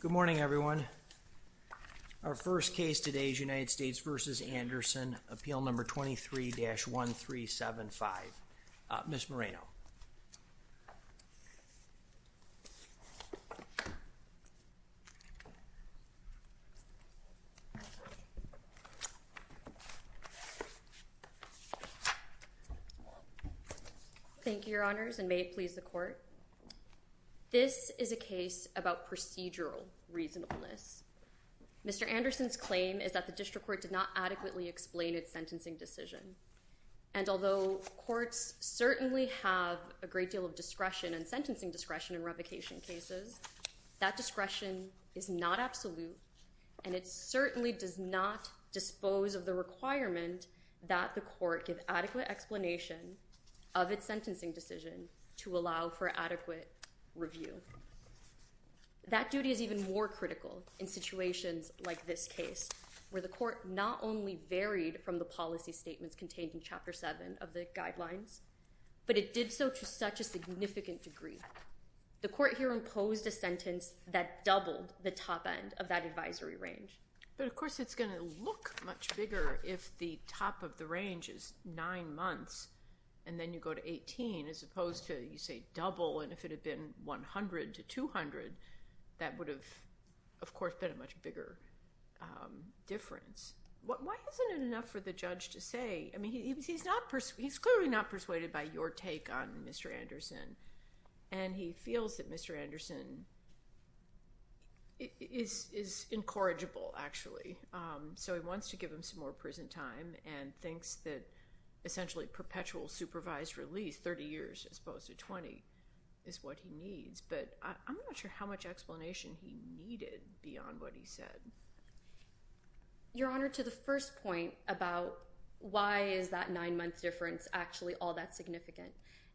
Good morning everyone. Our first case today is United States v. Anderson, appeal number 23-1375. Ms. Moreno. Thank you, your honors, and may it please the court. This is a case about procedural reasonableness. Mr. Anderson's claim is that the district court did not adequately explain its sentencing decision, and although courts certainly have a great deal of discretion and sentencing discretion in revocation cases, that discretion is not absolute, and it certainly does not dispose of the requirement that the court give adequate explanation of its sentencing decision to allow for adequate review. That duty is even more critical in situations like this case, where the court not only varied from the policy statements contained in Chapter 7 of the guidelines, but it did so to such a significant degree. The court here imposed a sentence that doubled the top end of that advisory range. But of course it's going to look much bigger if the top of the range is nine months, and then you go to 18, as opposed to, you say, double, and if it had been 100 to 200, that would have, of course, been a much bigger difference. Why isn't it enough for the judge to say, I mean, he's clearly not persuaded by your take on Mr. Anderson, and he feels that Mr. Anderson is incorrigible, actually. So he wants to give him some more prison time, and thinks that essentially perpetual supervised release, 30 years as opposed to 20, is what he needs, but I'm not sure how much explanation he needed beyond what he said. Your Honor, to the first point about why is that nine-month difference actually all that significant,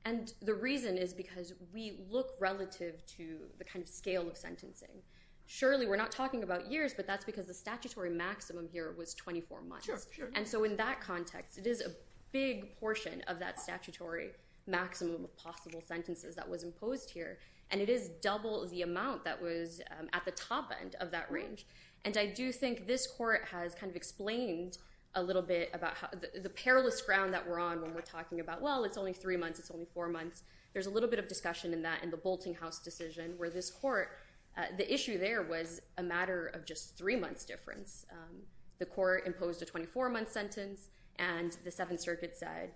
and the reason is because we look relative to the kind of scale of sentencing. Surely, we're not talking about years, but that's because the statutory maximum here was 24 months. Sure, sure. And so in that context, it is a big portion of that statutory maximum of possible sentences that was imposed here, and it is double the amount that was at the top end of that range. And I do think this court has kind of explained a little bit about the perilous ground that we're on when we're talking about, well, it's only three months, it's only four months. There's a little bit of discussion in that in the Bolting House decision, where this court, the issue there was a matter of just three months difference. The court imposed a 24-month sentence, and the Seventh Circuit said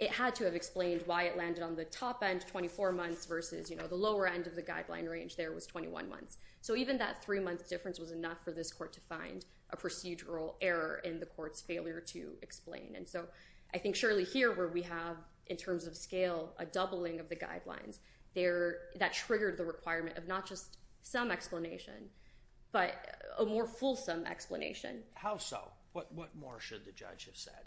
it had to have explained why it landed on the top end, 24 months, versus the lower end of the guideline range there was 21 months. So even that three-month difference was enough for this court to find a procedural error in the court's failure to explain. And so I think surely here, where we have, in terms of scale, a doubling of the guidelines, that triggered the requirement of not just some explanation, but a more fulsome explanation. What more should the judge have said?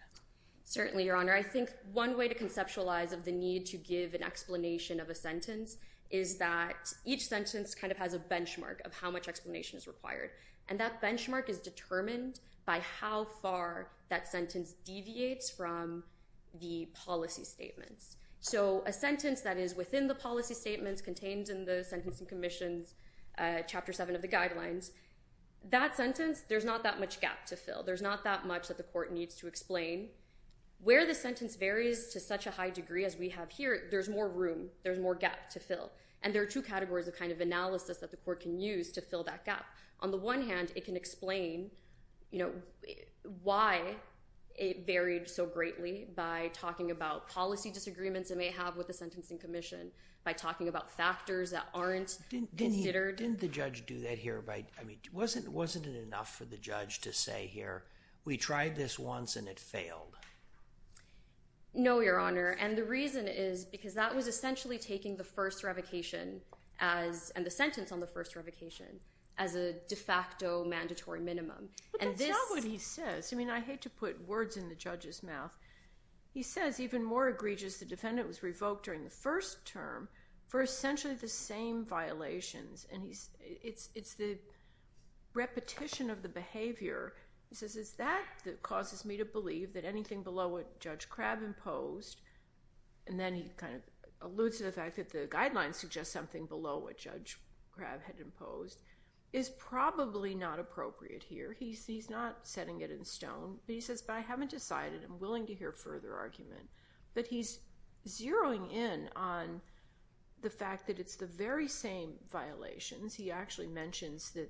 Certainly, Your Honor. I think one way to conceptualize of the need to give an explanation of a sentence is that each sentence kind of has a benchmark of how much explanation is required. And that benchmark is determined by how far that sentence deviates from the policy statements. So a sentence that is within the policy statements contained in the Sentencing Commission's Chapter 7 of the Guidelines, that sentence, there's not that much gap to fill. Where the sentence varies to such a high degree as we have here, there's more room, there's more gap to fill. And there are two categories of kind of analysis that the court can use to fill that gap. On the one hand, it can explain why it varied so greatly by talking about policy disagreements it may have with the Sentencing Commission, by talking about factors that aren't considered. Didn't the judge do that here by, I mean, wasn't it enough for the judge to say here, we tried this once and it failed? No, Your Honor. And the reason is because that was essentially taking the first revocation as, and the sentence on the first revocation, as a de facto mandatory minimum. But that's not what he says. I mean, I hate to put words in the judge's mouth. He says, even more egregious, the defendant was revoked during the first term for essentially the same violations. And it's the repetition of the behavior. He says, is that what causes me to believe that anything below what Judge Crabb imposed, and then he kind of alludes to the fact that the guidelines suggest something below what Judge Crabb had imposed, is probably not appropriate here. He's not setting it in stone. But he says, but I haven't decided. I'm willing to hear further argument. But he's zeroing in on the fact that it's the very same violations. He actually mentions that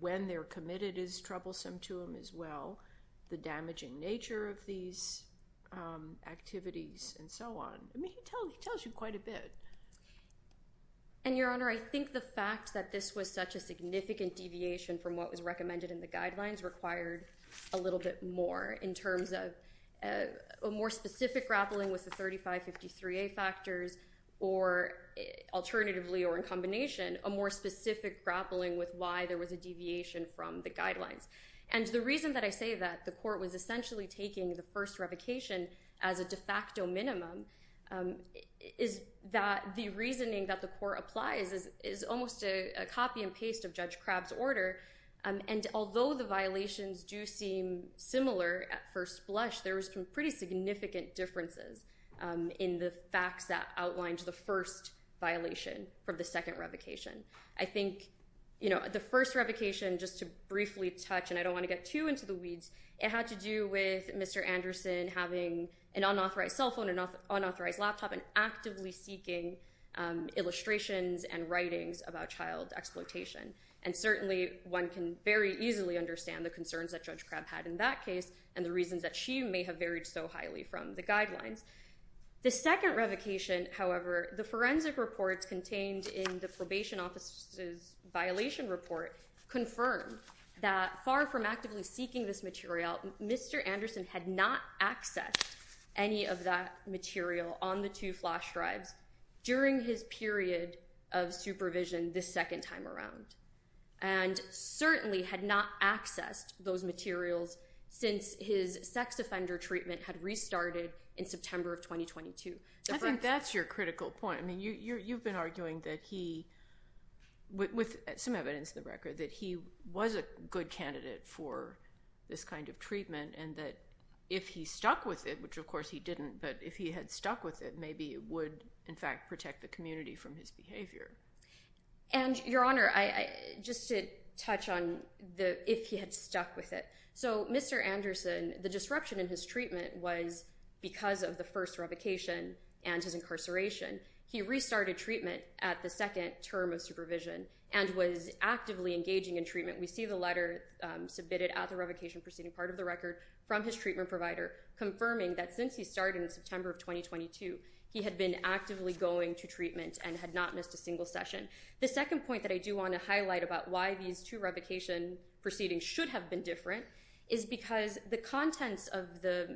when they're committed is troublesome to him as well. The damaging nature of these activities and so on. I mean, he tells you quite a bit. And Your Honor, I think the fact that this was such a significant deviation from what was recommended in the guidelines required a little bit more in terms of a more specific grappling with the 3553A factors, or alternatively or in combination, a more specific grappling with why there was a deviation from the guidelines. And the reason that I say that the court was essentially taking the first revocation as a de facto minimum is that the reasoning that the court applies is almost a copy and paste of Judge Crabb's order. And although the violations do seem similar at first blush, there was some pretty significant differences in the facts that outlined the first violation from the second revocation. I think the first revocation, just to briefly touch, and I don't want to get too into the weeds, it had to do with Mr. Anderson having an unauthorized cell phone, an unauthorized laptop, and actively seeking illustrations and writings about child exploitation. And certainly, one can very easily understand the concerns that Judge Crabb had in that case, and the reasons that she may have varied so highly from the guidelines. The second revocation, however, the forensic reports contained in the probation officer's violation report confirmed that far from actively seeking this material, Mr. Anderson had not accessed any of that material on the two flash drives during his period of supervision the second time around. And certainly had not accessed those materials since his sex offender treatment had restarted in September of 2022. I think that's your critical point. I mean, you've been arguing that he, with some evidence in the record, that he was a good candidate for this kind of treatment, and that if he stuck with it, which of course he didn't, but if he had stuck with it, maybe it would, in fact, protect the community from his behavior. And, Your Honor, just to touch on if he had stuck with it, so Mr. Anderson, the disruption in his treatment was because of the first revocation and his incarceration. He restarted treatment at the second term of supervision, and was actively engaging in treatment. We see the letter submitted at the revocation proceeding part of the record from his treatment provider confirming that since he started in September of 2022, he had been actively going to treatment and had not missed a single session. The second point that I do want to highlight about why these two revocation proceedings should have been different is because the contents of the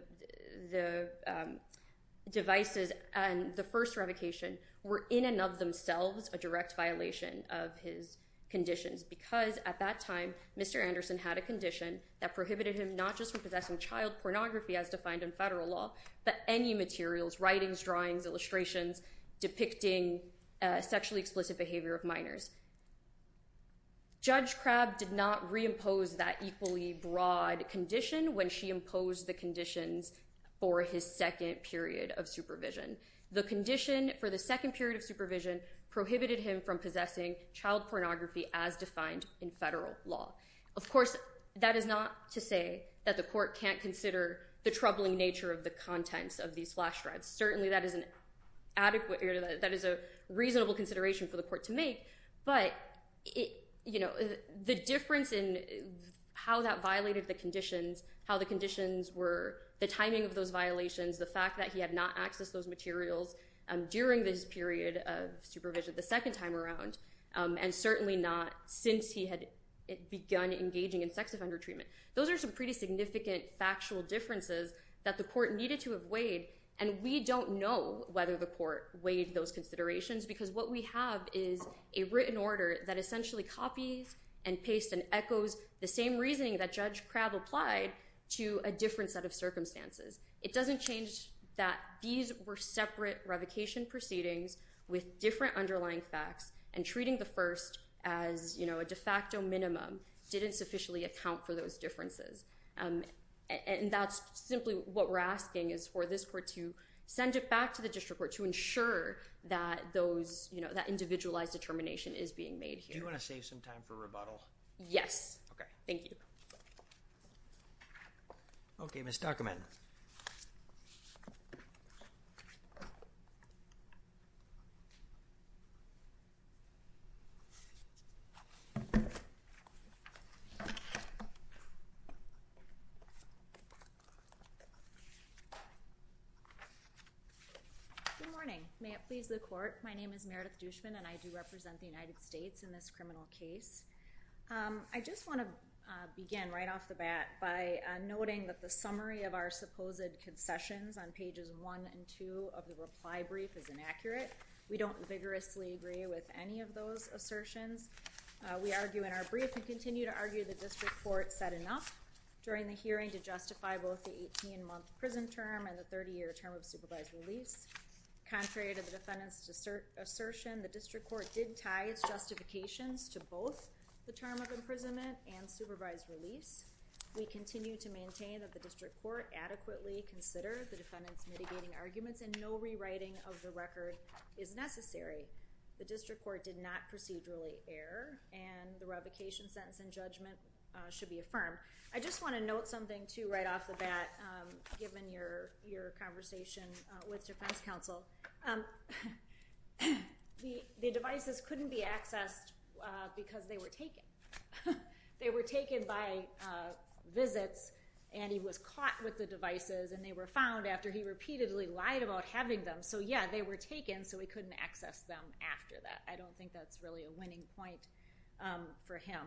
devices and the first revocation were in and of themselves a direct violation of his conditions, because at that time, Mr. Anderson had a condition that prohibited him not just from possessing child pornography as defined in federal law, but any materials, writings, drawings, illustrations, depicting sexually explicit behavior of minors. Judge Crabb did not reimpose that equally broad condition when she imposed the conditions for his second period of supervision. The condition for the second period of supervision prohibited him from possessing child pornography as defined in federal law. Of course, that is not to say that the court can't consider the troubling nature of the contents of these flash drives. Certainly that is a reasonable consideration for the court to make, but the difference in how that violated the conditions, how the conditions were, the timing of those violations, the fact that he had not accessed those materials during this period of supervision the second time around, and certainly not since he had begun engaging in sex offender treatment. Those are some pretty significant factual differences that the court needed to have weighed, and we don't know whether the court weighed those considerations, because what we have is a written order that essentially copies and pastes and echoes the same reasoning that Judge Crabb applied to a different set of circumstances. It doesn't change that these were separate revocation proceedings with different underlying facts, and treating the first as a de facto minimum didn't sufficiently account for those differences. That's simply what we're asking is for this court to send it back to the district court to ensure that that individualized determination is being made here. Do you want to save some time for rebuttal? Yes. Okay. Thank you. Okay. Ms. Duckerman. Good morning. May it please the court, my name is Meredith Dushman, and I do represent the United States in this criminal case. I just want to begin right off the bat by noting that the summary of our supposed concessions on pages one and two of the reply brief is inaccurate. We don't vigorously agree with any of those assertions. We argue in our brief and continue to argue that this report said enough during the hearing to justify both the 18-month prison term and the 30-year term of supervised release. Contrary to the defendant's assertion, the district court did tie its justifications to both the term of imprisonment and supervised release. We continue to maintain that the district court adequately consider the defendant's mitigating arguments and no rewriting of the record is necessary. The district court did not procedurally err, and the revocation sentence and judgment should be affirmed. I just want to note something too right off the bat, given your conversation with defense counsel. The devices couldn't be accessed because they were taken. They were taken by visits, and he was caught with the devices, and they were found after he repeatedly lied about having them, so yeah, they were taken, so he couldn't access them after that. I don't think that's really a winning point for him.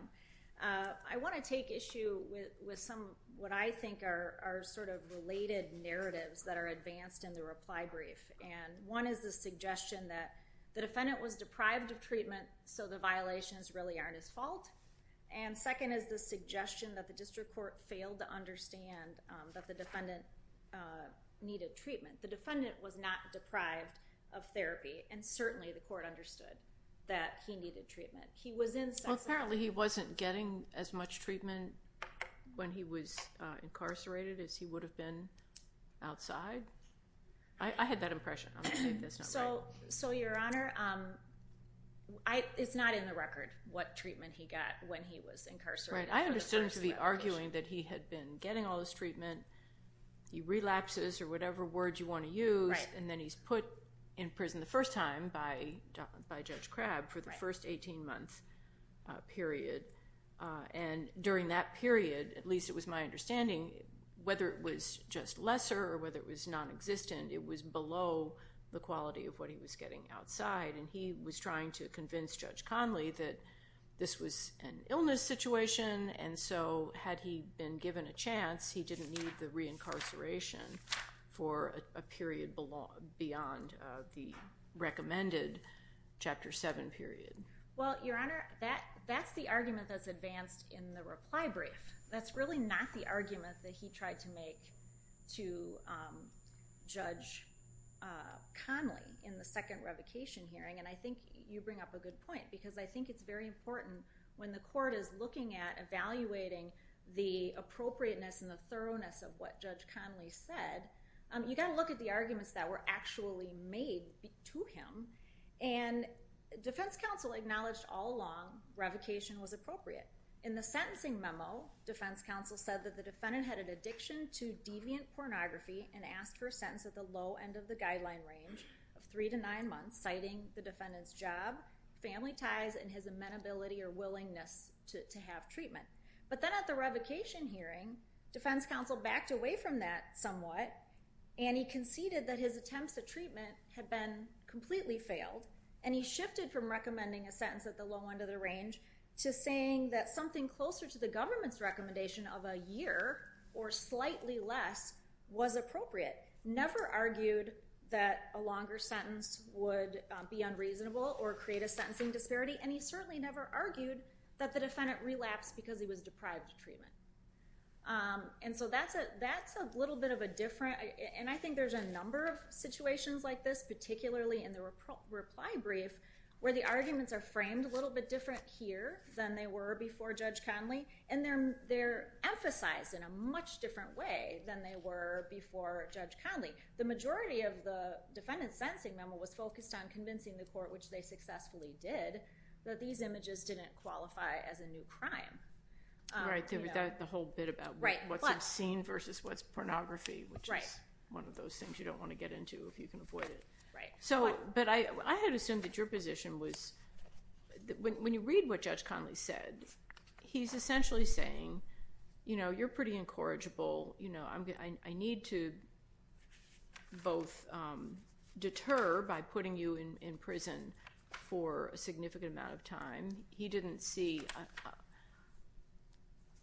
I want to take issue with some of what I think are sort of related narratives that are advanced in the reply brief, and one is the suggestion that the defendant was deprived of treatment, so the violations really aren't his fault, and second is the suggestion that the district court failed to understand that the defendant needed treatment. The defendant was not deprived of therapy, and certainly the court understood that he needed treatment. He was in... Well, apparently he wasn't getting as much treatment when he was incarcerated as he would have been outside. I had that impression. So your honor, it's not in the record what treatment he got when he was incarcerated. I understood him to be arguing that he had been getting all this treatment, he relapses or whatever word you want to use, and then he's put in prison the first time by Judge Crabb for the first 18-month period, and during that period, at least it was my understanding, whether it was just lesser or whether it was nonexistent, it was below the quality of what he was getting outside, and he was trying to convince Judge Conley that this was an illness situation, and so had he been given a chance, he didn't need the reincarceration for a period beyond the recommended Chapter 7 period. Well, your honor, that's the argument that's advanced in the reply brief. That's really not the argument that he tried to make to Judge Conley in the second revocation hearing, and I think you bring up a good point, because I think it's very important when the court is looking at evaluating the appropriateness and the thoroughness of what Judge Conley said, you gotta look at the arguments that were actually made to him, and defense counsel acknowledged all along, revocation was appropriate. In the sentencing memo, defense counsel said that the defendant had an addiction to deviant pornography and asked for a sentence at the low end of the guideline range of three to nine months, citing the defendant's job, family ties, and his amenability or willingness to have treatment, but then at the revocation hearing, defense counsel backed away from that somewhat, and he conceded that his attempts at treatment had been completely failed, and he shifted from recommending a sentence at the low end of the range to saying that something closer to the government's recommendation of a year, or slightly less, was appropriate. Never argued that a longer sentence would be unreasonable or create a sentencing disparity, and he certainly never argued that the defendant relapsed because he was deprived of treatment. And so that's a little bit of a different, and I think there's a number of situations like this, particularly in the reply brief, where the arguments are framed a little bit different here than they were before Judge Conley, and they're emphasized in a much different way than they were before Judge Conley. The majority of the defendant's sentencing memo was focused on convincing the court, which they successfully did, that these images didn't qualify as a new crime. Right, the whole bit about what's obscene versus what's pornography, which is one of those things you don't want to get into if you can avoid it. So, but I had assumed that your position was, when you read what Judge Conley said, he's essentially saying, you know, you're pretty incorrigible, you know, I need to both deter by putting you in prison for a significant amount of time. He didn't see,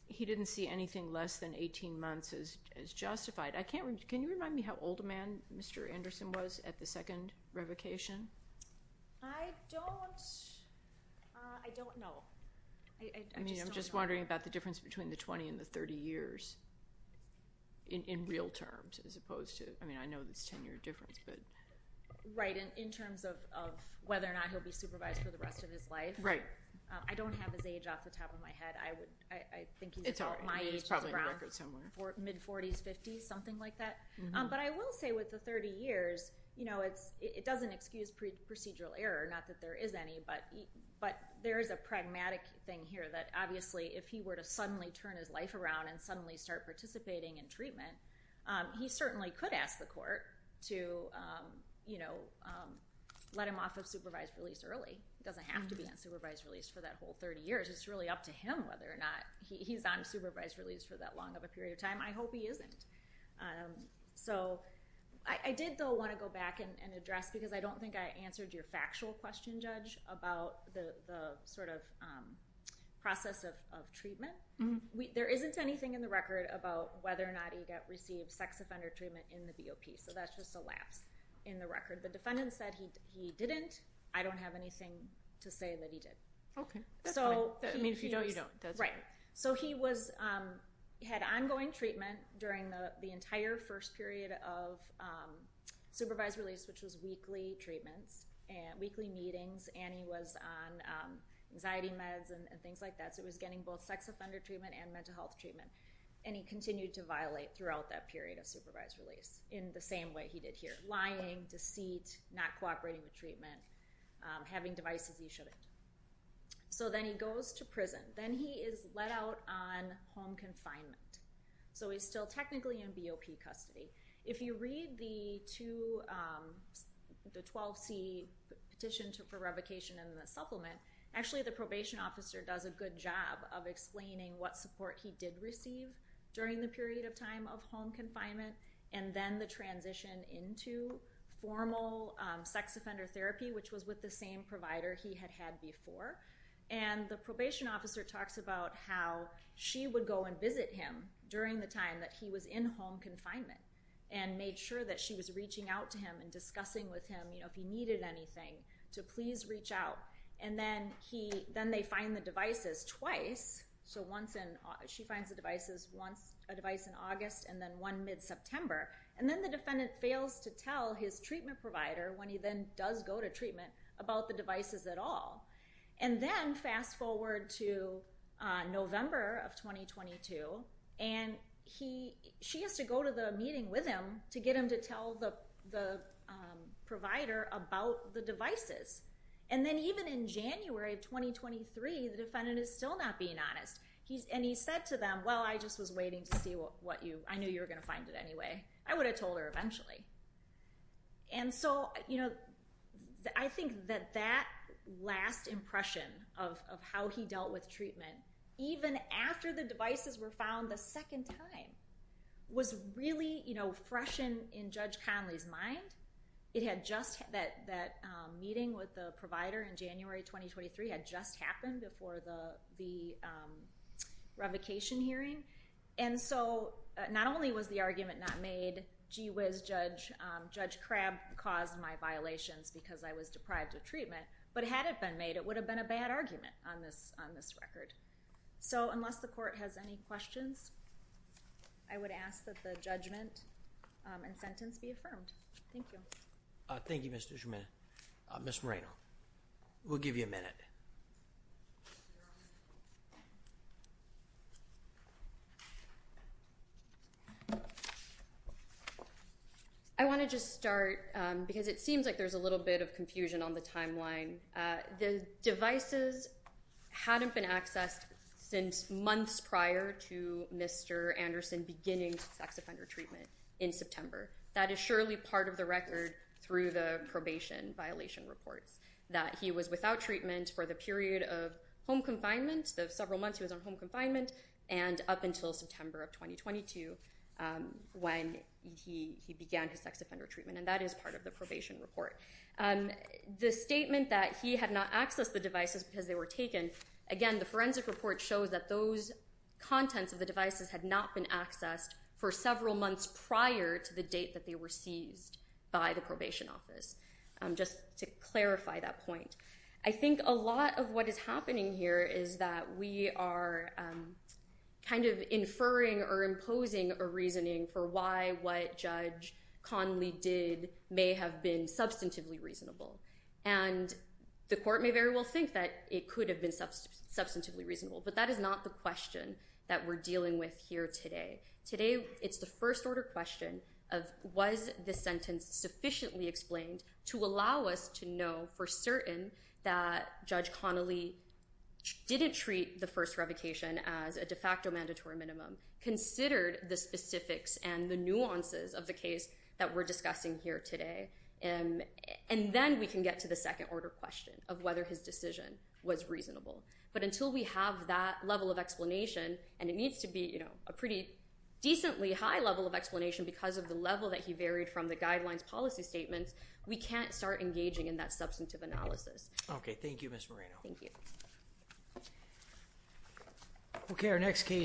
he didn't see anything less than 18 months as justified. Can you remind me how old a man Mr. Anderson was at the second revocation? I don't, I don't know. I mean, I'm just wondering about the difference between the 20 and the 30 years in real terms as opposed to, I mean, I know there's a 10-year difference, but. Right, and in terms of whether or not he'll be supervised for the rest of his life. Right. I don't have his age off the top of my head. I would, I think he's about my age. It's all right, he's probably in the record somewhere. Mid 40s, 50s, something like that. But I will say with the 30 years, you know, it doesn't excuse procedural error, not that there is any, but there is a pragmatic thing here that obviously if he were to suddenly turn his life around and suddenly start participating in treatment, he certainly could ask the court to, you know, let him off of supervised release early. It doesn't have to be on supervised release for that whole 30 years. It's really up to him whether or not he's on supervised release for that long of a period of time. I hope he isn't. So I did, though, want to go back and address, because I don't think I answered your factual question, Judge, about the sort of process of treatment. There isn't anything in the record about whether or not he received sex offender treatment in the BOP. So that's just a lapse in the record. The defendant said he didn't. I don't have anything to say that he did. Okay, that's fine. I mean, if you don't, you don't, does it? Right. So he had ongoing treatment during the entire first period of supervised release, which was weekly treatments, weekly meetings, and he was on anxiety meds and things like that. So he was getting both sex offender treatment and mental health treatment. And he continued to violate throughout that period of supervised release in the same way he did here. Lying, deceit, not cooperating with treatment, having devices he shouldn't. So then he goes to prison. Then he is let out on home confinement. So he's still technically in BOP custody. If you read the 12C petition for revocation in the supplement, actually the probation officer does a good job of explaining what support he did receive during the period of time of home confinement, and then the transition into formal sex offender therapy, which was with the same provider he had had before. And the probation officer talks about how she would go and visit him during the time that he was in home confinement and made sure that she was reaching out to him and discussing with him if he needed anything to please reach out. And then they find the devices twice. So she finds the devices once, a device in August, and then one mid-September. And then the defendant fails to tell his treatment provider when he then does go to treatment about the devices at all. And then fast forward to November of 2022, and she has to go to the meeting with him to get him to tell the provider about the devices. And then even in January of 2023, the defendant is still not being honest. And he said to them, well, I just was waiting to see what you, I knew you were going to find it anyway. I would have told her eventually. And so I think that that last impression of how he dealt with treatment, even after the devices were found the second time, was really fresh in Judge Conley's mind. It had just, that meeting with the provider in January 2023 had just happened before the revocation hearing. And so not only was the argument not made, gee whiz, Judge Crabb caused my violations because I was deprived of treatment. But had it been made, it would have been a bad argument on this record. So unless the court has any questions, I would ask that the judgment and sentence be affirmed. Thank you. Thank you, Mr. Schuman. Ms. Moreno, we'll give you a minute. I want to just start because it seems like there's a little bit of confusion on the timeline. The devices hadn't been accessed since months prior to Mr. Anderson beginning sex offender treatment in September. That is surely part of the record through the probation violation reports, that he was without treatment for the period of home confinement, the several months he was on home confinement, and up until September of 2022 when he began his sex offender treatment. And that is part of the probation report. The statement that he had not accessed the devices because they were taken, again, the forensic report shows that those contents of the devices had not been accessed for several months prior to the date that they were seized by the probation office. Just to clarify that point. I think a lot of what is happening here is that we are kind of inferring or imposing a reasoning for why what Judge Conley did may have been substantively reasonable. And the court may very well think that it could have been substantively reasonable. But that is not the question that we're dealing with here today. Today, it's the first order question of was this sentence sufficiently explained to allow us to know for certain that Judge Conley didn't treat the first revocation as a de facto mandatory minimum, considered the specifics and the nuances of the case that we're discussing here today, and then we can get to the second order question of whether his decision was reasonable. But until we have that level of explanation, and it needs to be a pretty decently high level of explanation because of the level that he varied from the guidelines policy statements, we can't start engaging in that substantive analysis. Okay. Thank you, Ms. Moreno. Thank you. Okay. Our next case.